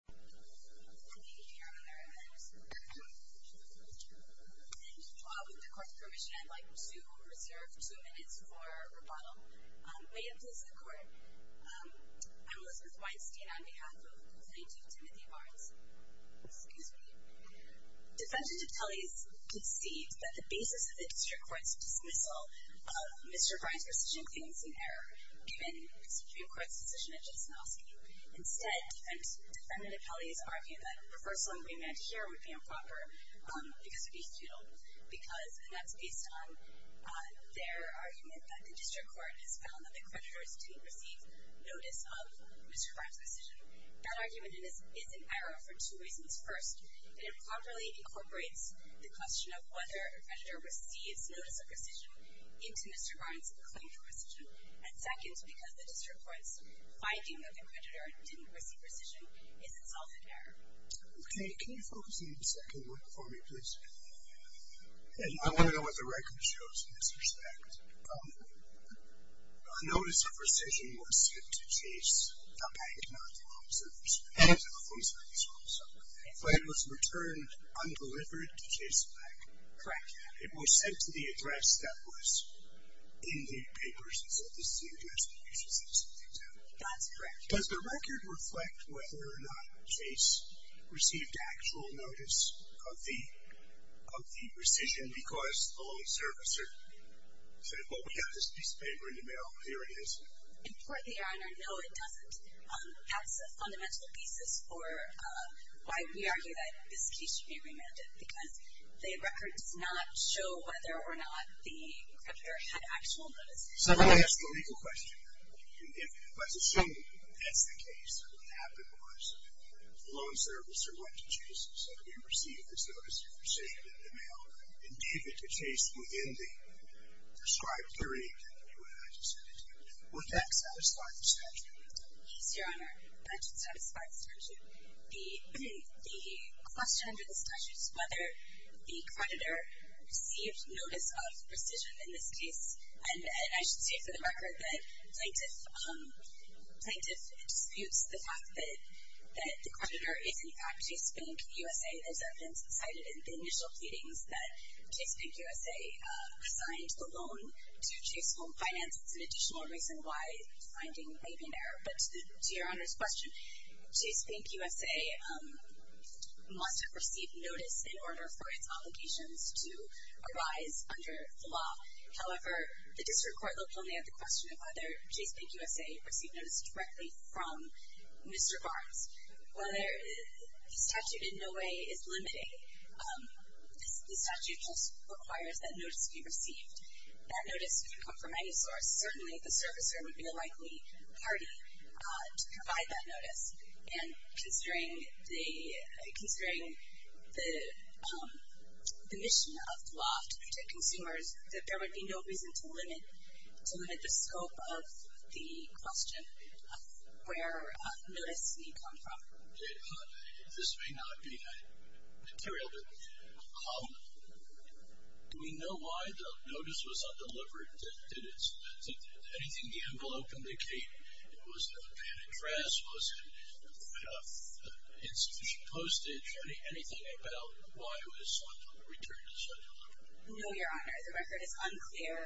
Elizabeth Weinstein v. Plaintiff Timothy Barnes Defendant Apelles concedes that the basis of the District Court's dismissal of Mr. Barnes' precision claims is in error, given the Supreme Court's decision in Chesnofsky. Instead, Defendant Apelles argued that a reversal agreement here would be improper because it would be futile, and that's based on their argument that the District Court has found that the creditors didn't receive notice of Mr. Barnes' decision. That argument is in error for two reasons. First, it improperly incorporates the question of whether a creditor receives notice of precision into Mr. Barnes' claim for precision. And second, because the District Court's finding that the creditor didn't receive precision is itself in error. Okay, can you focus on the second one for me, please? And I want to know what the record shows in this respect. A notice of precision was sent to Chase, a bank, not the home service, but it was returned un-delivered to Chase Bank. Correct. It was sent to the address that was in the papers and said, this is the address that you should send something to. That's correct. Does the record reflect whether or not Chase received actual notice of the precision because the home servicer said, well, we got this piece of paper in the mail, here it is? Importantly, Your Honor, no, it doesn't. That's a fundamental thesis for why we argue that this case should be remanded, because the record does not show whether or not the creditor had actual notice. Secondly, that's the legal question. If it was assumed that's the case and what happened was the loan servicer went to Chase and said, we received this notice of precision in the mail and gave it to Chase within the prescribed period, would that satisfy the statute? Yes, Your Honor, that would satisfy the statute. The question under this statute is whether the creditor received notice of precision in this case, and I should say for the record that Plaintiff disputes the fact that the creditor is in fact Chase Bank USA. There's evidence cited in the initial pleadings that Chase Bank USA assigned the loan to Chase Home Finance. It's an additional reason why the finding may be in error. But to Your Honor's question, Chase Bank USA must have received notice in order for its obligations to arise under the law. However, the district court looked only at the question of whether Chase Bank USA received notice directly from Mr. Barnes. While the statute in no way is limiting, the statute just requires that notice be received. That notice could come from any source. Certainly the servicer would be the likely party to provide that notice, and considering the mission of the law to protect consumers, that there would be no reason to limit the scope of the question of where notice may come from. This may not be material, but do we know why the notice was undelivered? Anything the envelope indicated? Was it an address? Was it an institution postage? Anything about why it was returned as undelivered? No, Your Honor. The record is unclear.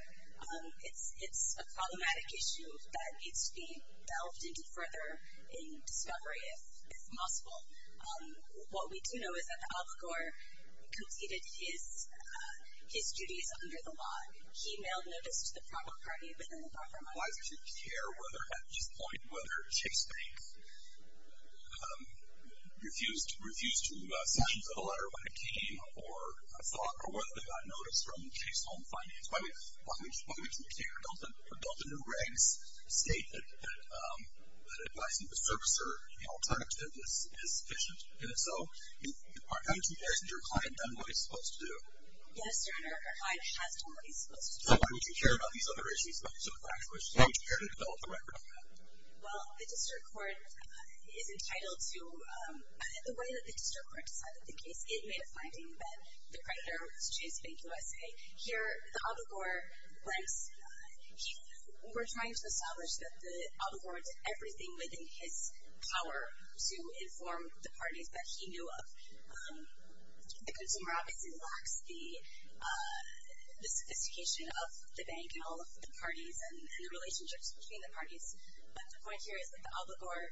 It's a problematic issue that needs to be delved into further in discovery if possible. What we do know is that the albacore completed his duties under the law. He mailed notice to the proper party within the buffer model. Why would you care whether, at this point, whether Chase Bank refused to sign the letter when it came, or whether they got notice from Chase Home Finance? Why would you care? Don't the new regs state that advising the servicer in an alternative is efficient? And if so, why isn't your client done what he's supposed to do? Yes, Your Honor. Our client has done what he's supposed to do. So why would you care about these other issues? Why would you care to develop the record on that? Well, the district court is entitled to the way that the district court decided the case. It made a finding that the creditor was Chase Bank USA. Here, the albacore blanks were trying to establish that the albacore did everything within his power to inform the parties that he knew of. The consumer obviously lacks the sophistication of the bank and all of the parties and the relationships between the parties. But the point here is that the albacore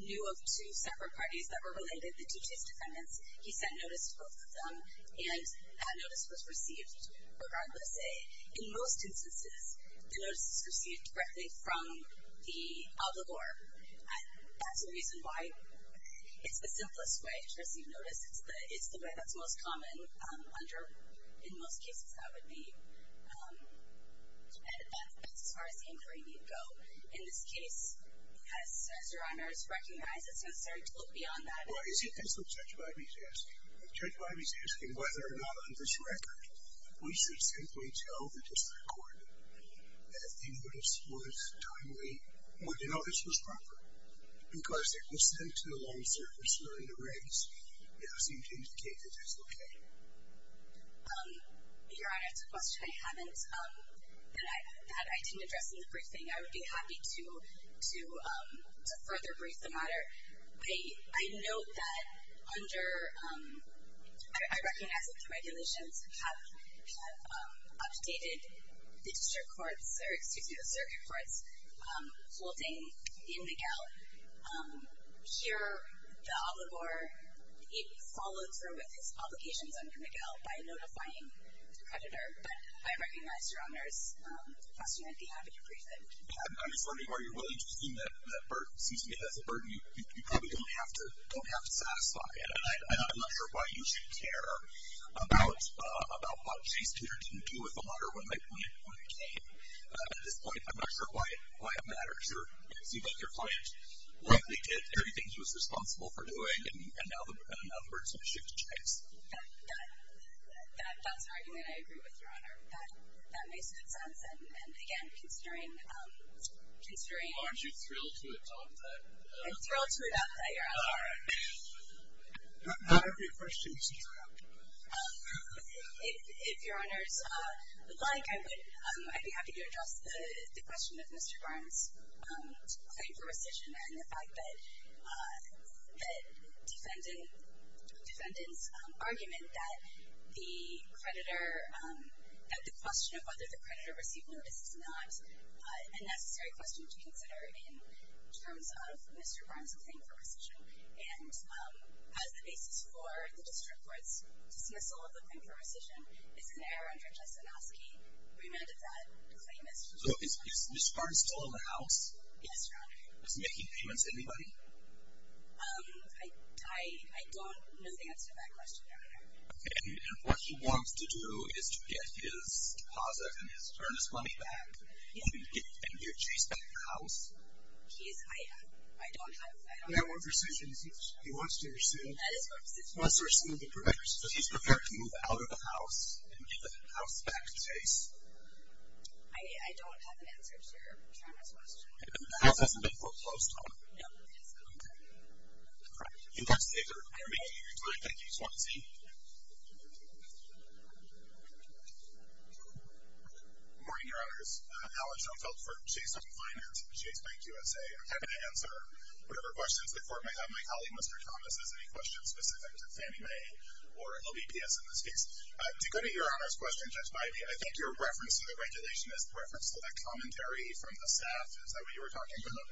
knew of two separate parties that were related, the two Chase defendants. He sent notice to both of them, and that notice was received regardless. In most instances, the notice is received directly from the albacore. That's the reason why it's the simplest way to receive notice. It's the way that's most common. In most cases, that would be as far as inquiry need go. In this case, as Your Honor has recognized, it's necessary to look beyond that. Well, isn't this what Judge Biby's asking? Judge Biby's asking whether or not on this record we should simply tell the district court that the notice was timely or the notice was proper because it was sent to the loan service during the race, and it seemed to indicate that it was okay. Your Honor, it's a question I haven't, that I didn't address in the briefing. I note that under, I recognize that the regulations have updated the district courts, or excuse me, the circuit courts, holding in Miguel. Here, the albacore, it followed through with his obligations under Miguel by notifying the creditor, but I recognize Your Honor's question on behalf of your briefing. I'm just wondering, are you willing to assume that that burden, excuse me, that's a burden you probably don't have to satisfy? And I'm not sure why you should care about what Chase Tudor didn't do with the water when it came. At this point, I'm not sure why it matters. Your client likely did everything he was responsible for doing, and now the burden's going to shift to Chase. That's an argument I agree with, Your Honor. That makes good sense. And, again, considering. Aren't you thrilled to adopt that? I'm thrilled to adopt that, Your Honor. All right. Not every question is true. If Your Honors would like, I'd be happy to address the question of Mr. Barnes' claim for rescission and the fact that defendants' argument that the question of whether the creditor received notice is not a necessary question to consider in terms of Mr. Barnes' claim for rescission and as the basis for the district court's dismissal of the claim for rescission is an error under Jastrzynowski. Remanded that claim as true. So is Mr. Barnes still in the House? Yes, Your Honor. Is Mickey Demons anybody? I don't know the answer to that question, Your Honor. And what he wants to do is to get his deposit and his earnest money back and get Chase back in the House? He's, I don't have, I don't have. He wants to receive. That is my position. He wants to receive the creditors, so he's prepared to move out of the House and get the House back to Chase? I don't have an answer to your generous question. The House hasn't been closed, Your Honor? No, it hasn't. Interrogator, are you making your point that you just want to see? Good morning, Your Honors. Alan Schoenfeldt for Chase Bank Finance, Chase Bank USA. I'm happy to answer whatever questions the Court may have. My colleague, Mr. Thomas, has any questions specific to Fannie Mae or LBPS in this case. To go to Your Honor's question, Judge Bidey, I think your reference to the regulation is the reference to that commentary from the staff. Is that what you were talking about?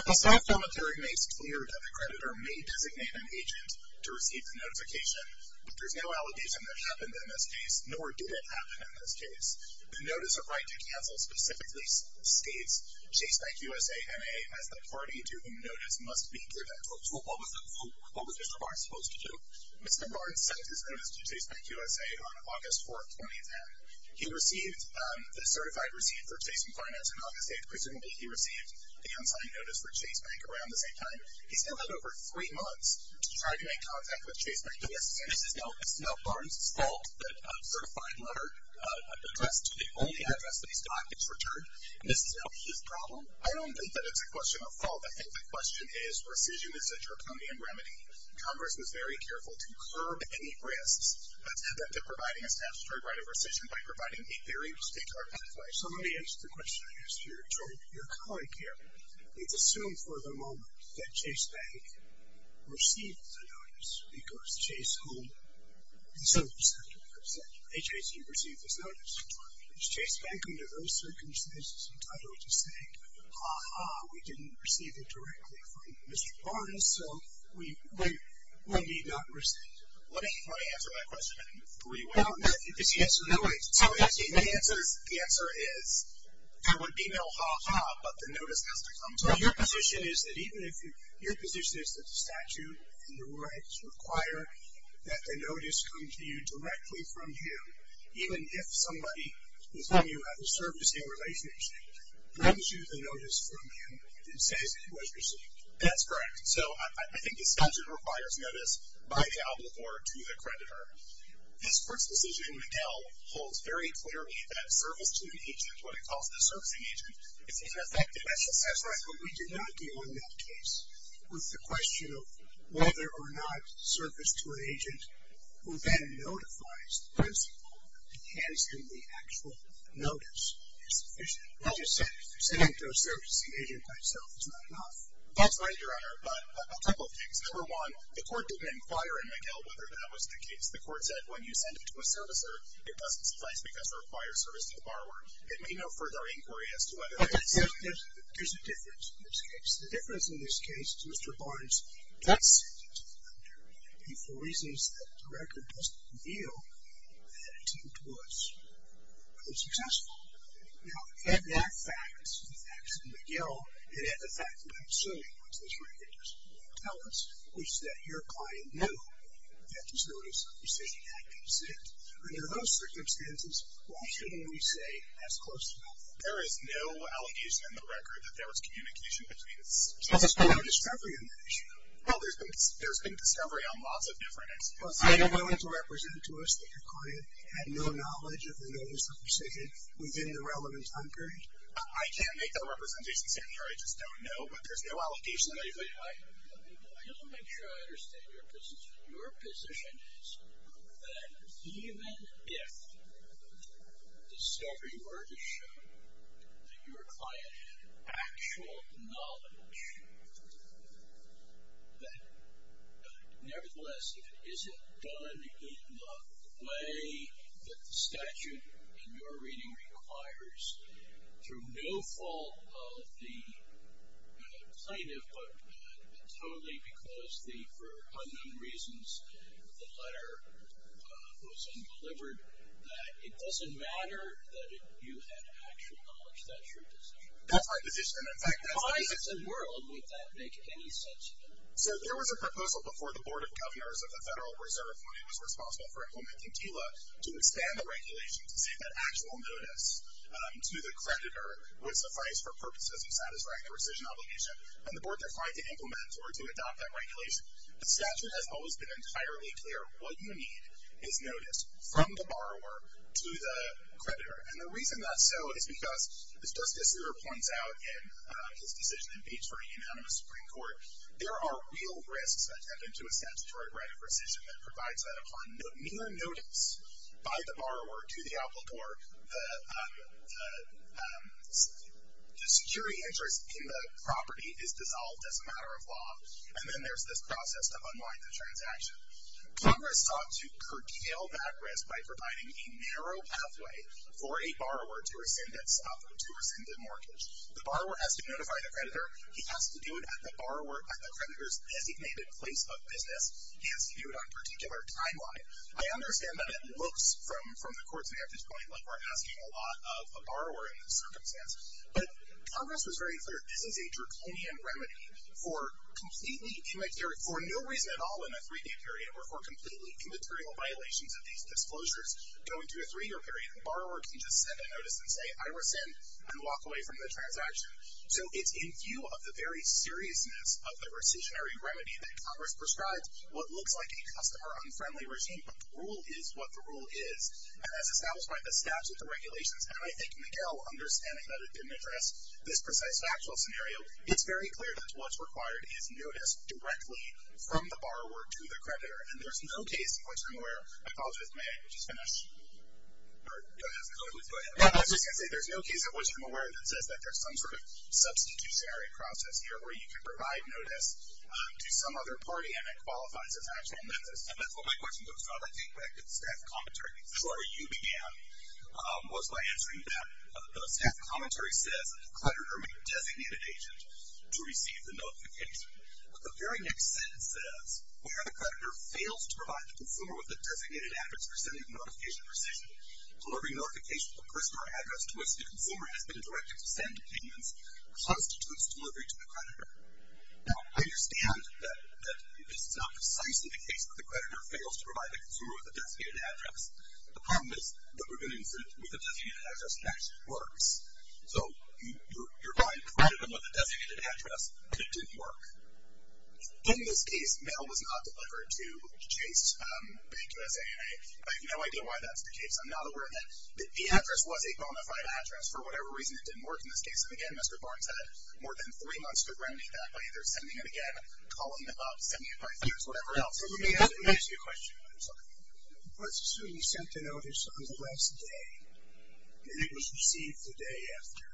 The staff commentary makes clear that the creditor may designate an agent to receive the notification, but there's no allegation that happened in this case, nor did it happen in this case. The notice of right to cancel specifically states Chase Bank USA MA as the party to whom notice must be given. What was Mr. Barnes supposed to do? Mr. Barnes sent his notice to Chase Bank USA on August 4th, 2010. He received the certified receipt for Chase Bank Finance on August 8th. Presumably he received the unsigned notice for Chase Bank around the same time. He still had over three months to try to make contact with Chase Bank USA. This is not Mr. Barnes' fault that a certified letter, an address to the only address that he's got is returned? This is not his problem? I don't think that it's a question of fault. I think the question is, rescission is a draconian remedy. Congress was very careful to curb any risks, but instead they're providing a statutory right of rescission by providing a theory to state our pathway. So let me answer the question I asked your colleague here. Let's assume for the moment that Chase Bank received the notice because Chase Home and so forth said, hey, Chase, you received this notice. Was Chase Bank under those circumstances entitled to say, ha-ha, we didn't receive it directly from Mr. Barnes, so we need not receive it. Let me answer that question for you. So the answer is, there would be no ha-ha, but the notice has to come to him. So your position is that even if your position is that the statute and the rights require that the notice come to you directly from him, even if somebody with whom you have a servicing relationship brings you the notice from him and says it was received? That's correct. So I think the statute requires notice by the obligor to the creditor. This court's decision in McGill holds very clearly that service to an agent, what it calls the servicing agent, is ineffective. That's right, but we did not deal in that case with the question of whether or not service to an agent who then notifies the principal that he has him the actual notice is sufficient. Just sending it to a servicing agent myself is not enough. That's right, Your Honor, but a couple of things. Number one, the court didn't inquire in McGill whether that was the case. The court said when you send it to a servicer, it doesn't suffice because it requires service to the borrower. There may be no further inquiry as to whether that's the case. There's a difference in this case. The difference in this case is Mr. Barnes, and for reasons that the record doesn't reveal, that attempt was unsuccessful. Now, in that fact, in the facts of McGill, and in the fact that I'm assuming what this record doesn't tell us, which is that your client knew that his notice of rescission had been sent, under those circumstances, why shouldn't we say as close to that? There is no allegation in the record that there was communication between us. There's no discovery in that issue. Well, there's been discovery on lots of different instances. Are you willing to represent to us that your client had no knowledge of the notice of rescission within the relevant time period? I can't make that representation, Senator. I just don't know, but there's no allegation. I don't make sure I understand your position. Your position is that even if discovery were to show that your client had actual knowledge, that nevertheless, if it isn't done in the way that the statute in your reading requires, through no fault of the plaintiff, but totally because for unknown reasons, the letter was undelivered, that it doesn't matter that you had actual knowledge. That's your position. That's my position. In fact, that's my position. So where in the world would that make any sense? So there was a proposal before the Board of Governors of the Federal Reserve, when it was responsible for implementing TILA, to expand the regulation to say that actual notice to the creditor would suffice for purposes of satisfying the rescission obligation. And the Board defied to implement or to adopt that regulation. The statute has always been entirely clear. What you need is notice from the borrower to the creditor. And the reason that's so is because, as Justice Segar points out in his decision in Beech for a unanimous Supreme Court, there are real risks that tend into a statutory right of rescission that provides that upon mere notice by the borrower to the applicor, the security interest in the property is dissolved as a matter of law. And then there's this process to unwind the transaction. Congress sought to curtail that risk by providing a narrow pathway for a borrower to rescind the mortgage. The borrower has to notify the creditor. He has to do it at the creditor's designated place of business. He has to do it on a particular timeline. I understand that it looks from the Court's vantage point like we're asking a lot of a borrower in this circumstance. But Congress was very clear, this is a draconian remedy for completely immaterial, for no reason at all in a three-year period, or for completely immaterial violations of these disclosures going to a three-year period. A borrower can just send a notice and say, I rescind, and walk away from the transaction. So it's in view of the very seriousness of the rescissionary remedy that Congress prescribes what looks like a customer-unfriendly regime. But the rule is what the rule is. And as established by the statute, the regulations, and I think Miguel, understanding that it didn't address this precise factual scenario, it's very clear that what's required is notice directly from the borrower to the creditor. And there's no case in which I'm aware, I apologize if my English is finished, go ahead. I was just going to say there's no case in which I'm aware that says that there's some sort of substitutionary process here where you can provide notice to some other party and it qualifies as actual notice. And that's what my question goes to. I'd like to get back to the staff commentary. The story you began was by answering that the staff commentary says that the creditor may designate an agent to receive the notification. The very next sentence says, where the creditor fails to provide the consumer with the designated address for sending the notification precisely. Delivering notification to the person or address to which the consumer has been directed to send payments constitutes delivery to the creditor. Now, I understand that this is not precisely the case where the creditor fails to provide the consumer with a designated address. The problem is that we're going to incidentally with a designated address that actually works. So you're going to credit them with a designated address, but it didn't work. In this case, mail was not delivered to Chase Bank USA, and I have no idea why that's the case. I'm not aware of that. The address was a bona fide address. For whatever reason, it didn't work in this case. And again, Mr. Barnes had more than three months to remedy that by either sending it again, calling them up, sending it by e-mail, or whatever else. Let me ask you a question. It was to be sent to notice on the last day, and it was received the day after.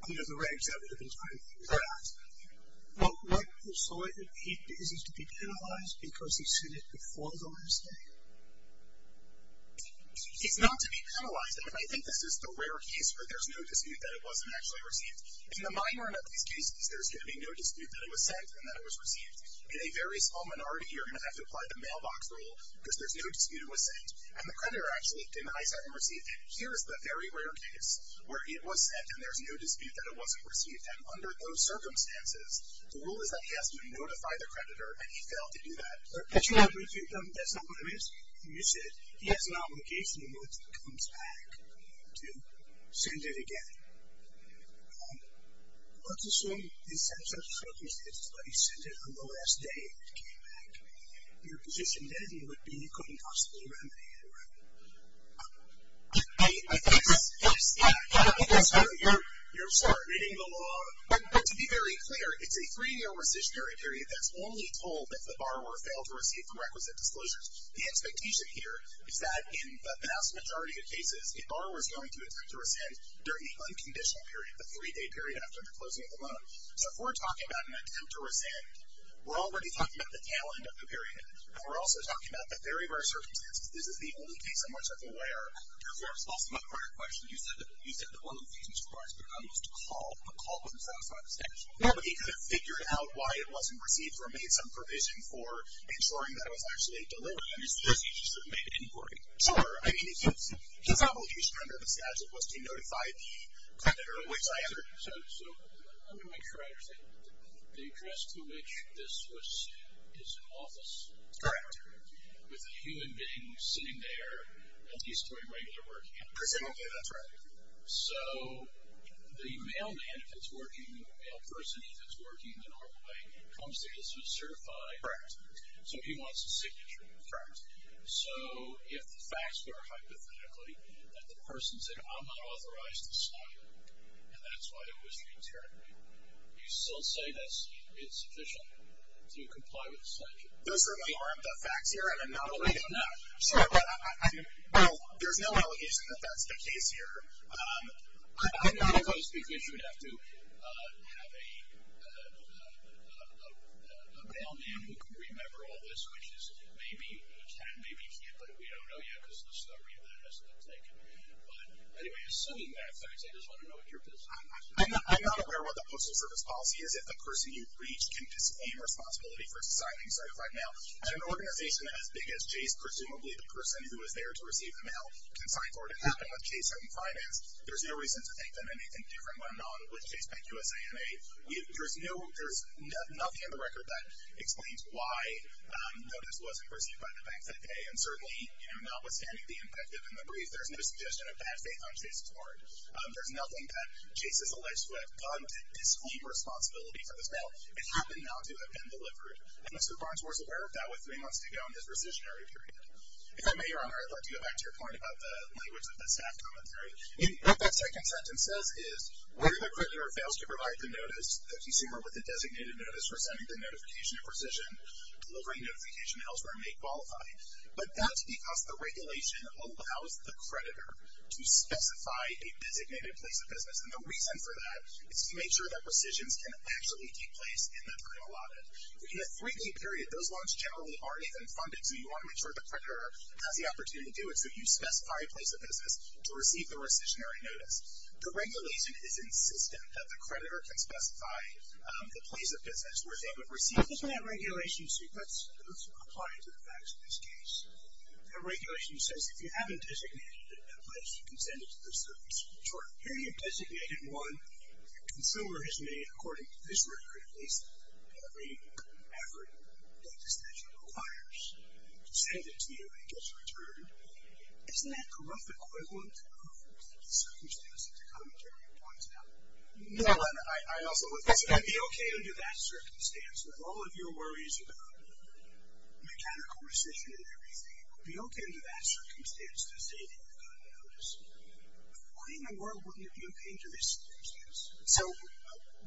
Under the regs of it, it was going to be dropped. Well, what you're saying is it's to be penalized because he sent it before the last day? It's not to be penalized. I think this is the rare case where there's no dispute that it wasn't actually received. In the minor enough of these cases, there's going to be no dispute that it was sent and that it was received. In a very small minority, you're going to have to apply the mailbox rule because there's no dispute it was sent. And the creditor actually denies having received it. Here is the very rare case where it was sent, and there's no dispute that it wasn't received. And under those circumstances, the rule is that he has to notify the creditor, and he failed to do that. But you have received them. That's not what it means. You said he has an obligation once it comes back to send it again. Let's assume he sent it on the last day it came back. Your position then would be you couldn't possibly remedy it, right? I think that's fair. You're reading the law. To be very clear, it's a three-year rescissionary period that's only told if the borrower failed to receive the requisite disclosures. The expectation here is that in the vast majority of cases, a borrower is going to attempt to rescind during the unconditional period, the three-day period after the closing of the loan. So if we're talking about an attempt to rescind, we're already talking about the tail end of the period, and we're also talking about the very, very circumstances. This is the only case in which I'm aware. Also, my part of the question, you said that one of the things the borrower's been on was to call, but a call wasn't satisfied with the schedule. Yeah, but he could have figured out why it wasn't received or made some provision for ensuring that it was actually delivered. You're suggesting he should have made an inquiry. Sure. I mean, his obligation under the schedule was to notify the creditor, which I understand. So I'm going to make sure I understand. The address to which this was sent is an office. Correct. With a human being sitting there at least doing regular work. Presumably, that's right. So the mailman, if it's working, the mail person, if it's working the normal way, comes to get certified. Correct. So he wants a signature. Correct. So if the facts were hypothetically that the person said, I'm not authorized to sign it, and that's why it was returned, you still say that it's sufficient to comply with the schedule? Those certainly aren't the facts here, and I'm not alleging that. Sure. Well, there's no allegation that that's the case here. I'm not opposed, because you would have to have a mailman who can remember all this, which is maybe a 10, maybe 10, but we don't know yet because the story of that has not taken. But, anyway, assuming that, I just want to know what your position is. I'm not aware what the Postal Service Policy is. If the person you've reached can disclaim responsibility for signing, so, right now, an organization as big as Chase, presumably the person who was there to receive the mail, can sign for it. It happened with Chase and Finance. There's no reason to think that anything different went on with Chase Bank USA and A. There's nothing in the record that explains why notice wasn't received by the bank that day, and certainly, you know, notwithstanding the impact of it in the brief, there's no suggestion of bad faith on Chase's part. There's nothing that Chase has alleged to have done to disclaim responsibility for this mail. It happened not to have been delivered, and Mr. Barnes was aware of that with three months to go in his rescissionary period. If I may, Your Honor, I'd like to go back to your point about the language of the staff commentary. What that second sentence says is, whether the creditor fails to provide the notice, the consumer with the designated notice for sending the notification of rescission, delivering notification elsewhere may qualify. But that's because the regulation allows the creditor to specify a designated place of business, and the reason for that is to make sure that rescissions can actually take place in the time allotted. If you have a three-day period, those loans generally aren't even funded, so you want to make sure the creditor has the opportunity to do it, so you specify a place of business to receive the rescissionary notice. The regulation is insistent that the creditor can specify the place of business where they would receive it. Let's look at that regulation. Let's apply it to the facts of this case. The regulation says if you haven't designated a place, you can send it to the service. Here you have designated one. The consumer has made, according to this record, at least every effort that the statute requires to send it to you, and it gets returned. Isn't that a rough equivalent of the circumstances the commentary points out? I also would say that it would be okay under that circumstance, with all of your worries about mechanical rescission and everything, it would be okay under that circumstance to say that you've got a notice. Why in the world would you be okay under this circumstance? So,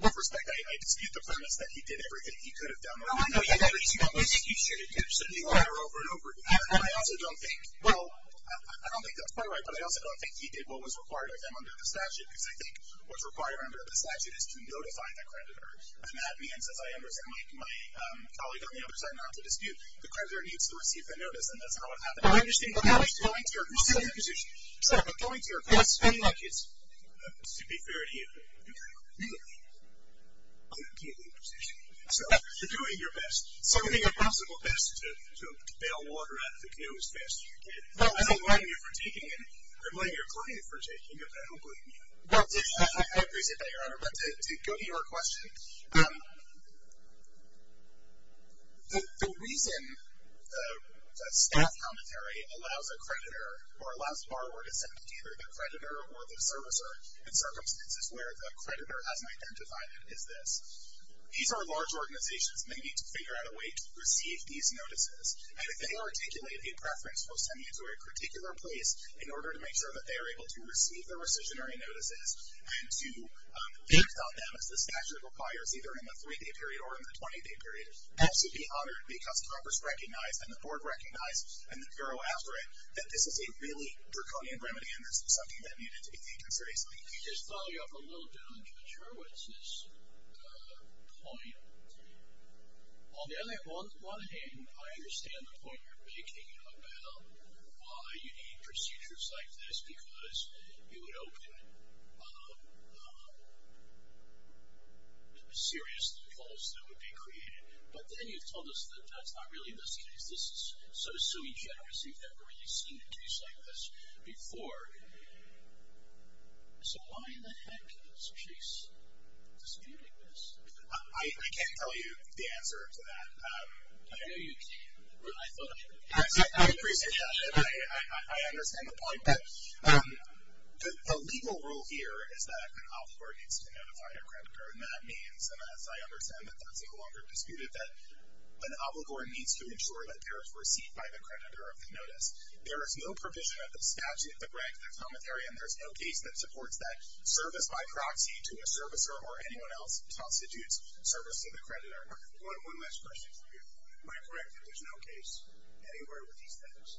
with respect, I dispute the premise that he did everything he could have done. Well, I know he did everything he should have done. So do I. And I also don't think, well, I don't think that's quite right, but I also don't think he did what was required of him under the statute, because I think what's required under the statute is to notify the creditor, and that means, as I understand, like my colleague on the other side, not to dispute, the creditor needs to receive the notice, and that's not what happened. I understand, but now I see your position. Sir, I'm going to your question. Yes, ma'am. To be fair to you, I don't get your position. You're doing your best, doing your possible best to bail water out of the canoe as fast as you can. I don't blame you for taking it. I blame your client for taking it, but I don't blame you. Well, I appreciate that, Your Honor, but to go to your question, the reason the staff commentary allows a creditor or allows a borrower to send it to either the creditor or the servicer in circumstances where the creditor hasn't identified it is this. These are large organizations, and they need to figure out a way to receive these notices. And if they articulate a preference for sending it to a particular place in order to make sure that they are able to receive the rescissionary notices and to act on them as the statute requires, either in the three-day period or in the 20-day period, I should be honored because Congress recognized and the Board recognized and the Bureau after it that this is a really draconian remedy and this is something that needed to be taken seriously. Let me just follow you up a little bit on Judge Hurwitz's point. On one hand, I understand the point you're making about why you need procedures like this because you would open serious defaults that would be created. But then you've told us that that's not really the case. This is sort of suing generous. We've never really seen a case like this before. So why the heck is Chase disputing this? I can't tell you the answer to that. I know you can. I appreciate that. I understand the point. But the legal rule here is that an obligor needs to notify a creditor. And that means, and as I understand it, that's no longer disputed, that an obligor needs to ensure that they're received by the creditor of the notice. There is no provision of the statute that ranks the commentary and there's no case that supports that service by proxy to a servicer or anyone else constitutes service to the creditor. One last question for you. Am I correct that there's no case anywhere with these things?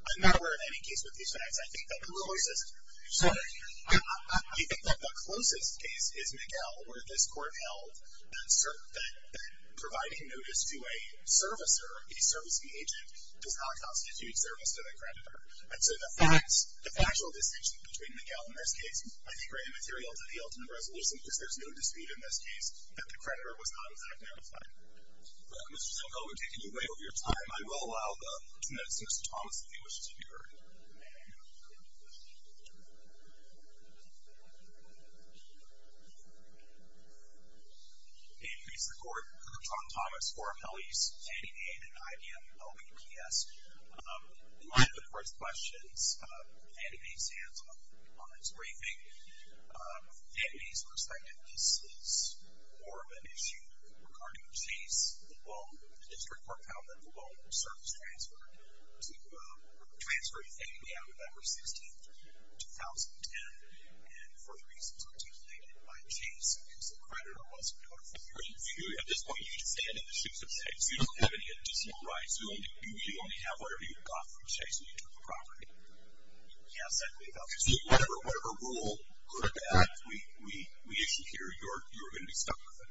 I'm not aware of any case with these facts. I think that the closest case is Miguel, where this court held that providing notice to a servicer, a servicing agent, does not constitute service to the creditor. And so the factual distinction between Miguel and this case, I think, are immaterial to the ultimate resolution because there's no dispute in this case that the creditor was not exactly notified. Mr. Simcoe, we're taking away all of your time. I will allow the next Mr. Thomas if he wishes to be heard. May it please the Court. I'm Tom Thomas for Appellees Andy A. and IBM LBPS. In light of the Court's questions, Andy A. stands on his briefing. From Andy's perspective, this is more of an issue regarding Chase, the loan, the district court found that the loan was service-transferred to a transferring family on November 16th, 2010, and for the reasons articulated by Chase, whose creditor wasn't notified. At this point, you can stand in the suits of state. You don't have any additional rights. You only have whatever you got from Chase when you took the property. Yes, I believe that. So whatever rule or act we issue here, you're going to be stuck with it?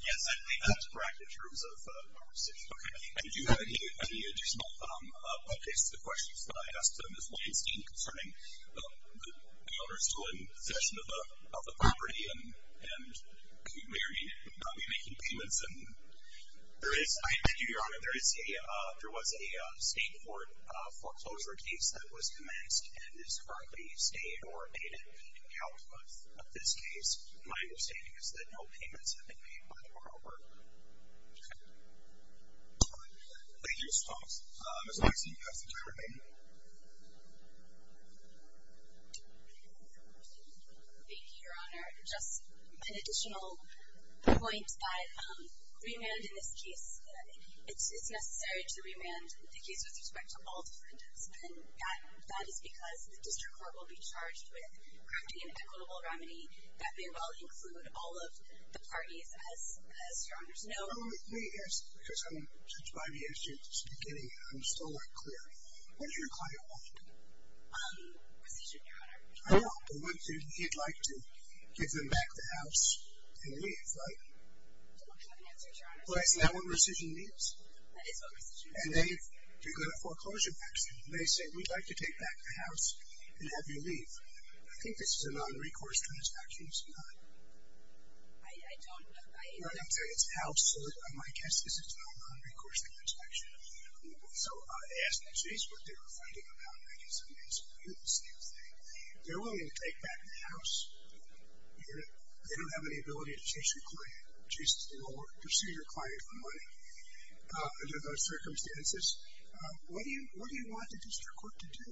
Yes, I believe that's correct in terms of our decision. Okay. And do you have any additional updates to the questions that I asked to Ms. Weinstein concerning the owner still in possession of the property and could very well not be making payments? Thank you, Your Honor. There was a state court foreclosure case that was commenced and is currently stayed or paid at the account of this case. My understanding is that no payments have been made by the borrower. Thank you, Mr. Thomas. Ms. Weinstein, you have some time remaining. Thank you, Your Honor. Just an additional point that remand in this case, it's necessary to remand the case with respect to all defendants, and that is because the district court will be charged with crafting an equitable remedy that may well include all of the parties, as Your Honor's know. Oh, yes, because I'm judged by the issue at the beginning, and I'm still not clear. What's your client want? Precision, Your Honor. I know, but what if he'd like to give them back the house and leave, right? I don't have an answer, Your Honor. Well, isn't that what precision means? That is what precision means. And they've begun a foreclosure action. They say, we'd like to take back the house and have you leave. I think this is a non-recourse transaction, isn't it? I don't know. It's a house, so my guess is it's a non-recourse transaction. So I asked the case what they were thinking about, and I guess the answer would be the same thing. They're willing to take back the house. They don't have any ability to chase your client, chase your senior client for money under those circumstances. What do you want the district court to do?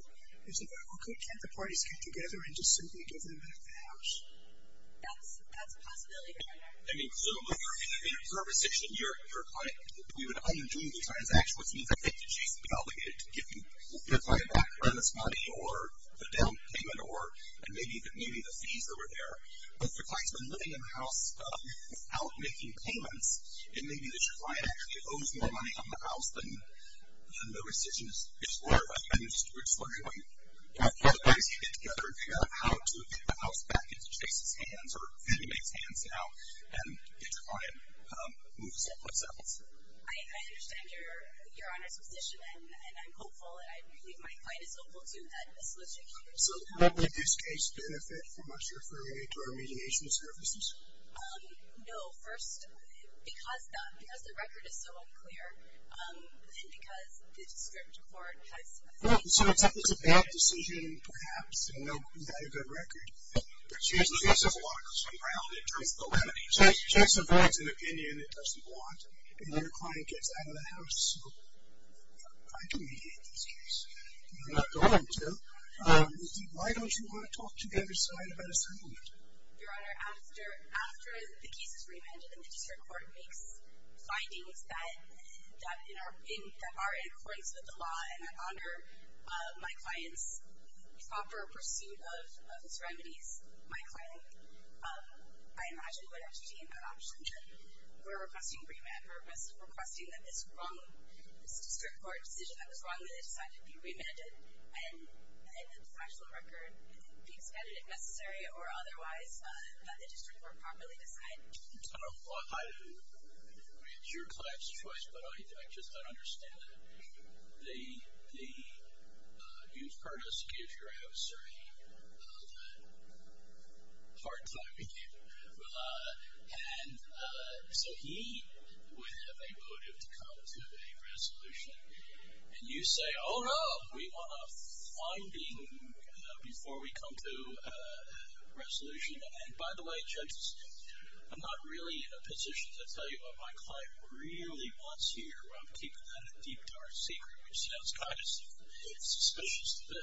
It's like, okay, can't the parties get together and just simply give them back the house? That's a possibility, Your Honor. I mean, so your precision, your client, we would underdo the transaction, which means I think that she's obligated to give her client back premise money or the down payment or maybe the fees that were there. But if the client's been living in the house without making payments, then maybe that your client actually owes more money on the house than the precision is worth. I'm just wondering what you do. How does he get together and figure out how to get the house back into Chase's hands or Fannie Mae's hands now and get your client to move someplace else? I understand your Honor's position, and I'm hopeful, and I believe my client is hopeful, too, that this litigation can be resolved. Would this case benefit from us referring it to our mediation services? No. First, because the record is so unclear, and because the district court has seen it. So it's a bad decision perhaps, and no, you've got a good record. Chase's case has a lot of concern, primarily in terms of the remedies. Chase supports an opinion that he doesn't want, and then the client gets out of the house. So why do we need this case? We're not going to. Why don't you want to talk to the other side about a settlement? Your Honor, after the case is remanded and the district court makes findings that are in accordance with the law and in honor of my client's proper pursuit of his remedies, my client, I imagine we would have to be in that opposition. We're requesting remand. We're requesting that this wrong district court decision that was wrongly decided be remanded and that the actual record be expanded if necessary or otherwise, that the district court properly decide. I don't know why. It's your client's choice, but I just don't understand it. You've heard us give your officer a hard time, and so he would have a motive to come to a resolution, and you say, oh, no, we want a finding before we come to a resolution. And, by the way, judges, I'm not really in a position to tell you what my client really wants here. I'm keeping that a deep, dark secret, which sounds kind of suspicious to me.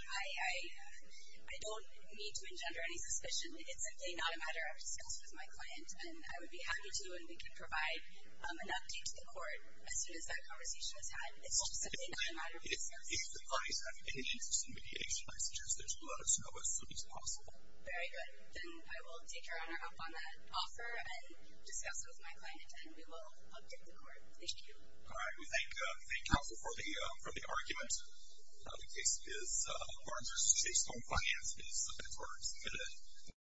I don't need to engender any suspicion. It's simply not a matter of discussion with my client, and I would be happy to, and we can provide an update to the court as soon as that conversation is had. It's just simply not a matter of discussion. If the clients have any interest in mediation, I suggest there's blood, snow, as soon as possible. Very good. Then I will take your honor up on that offer and discuss it with my client, and we will update the court. Thank you. All right. We thank counsel for the argument. The case is Barnes v. Shapestone. Finance is subpoenaed.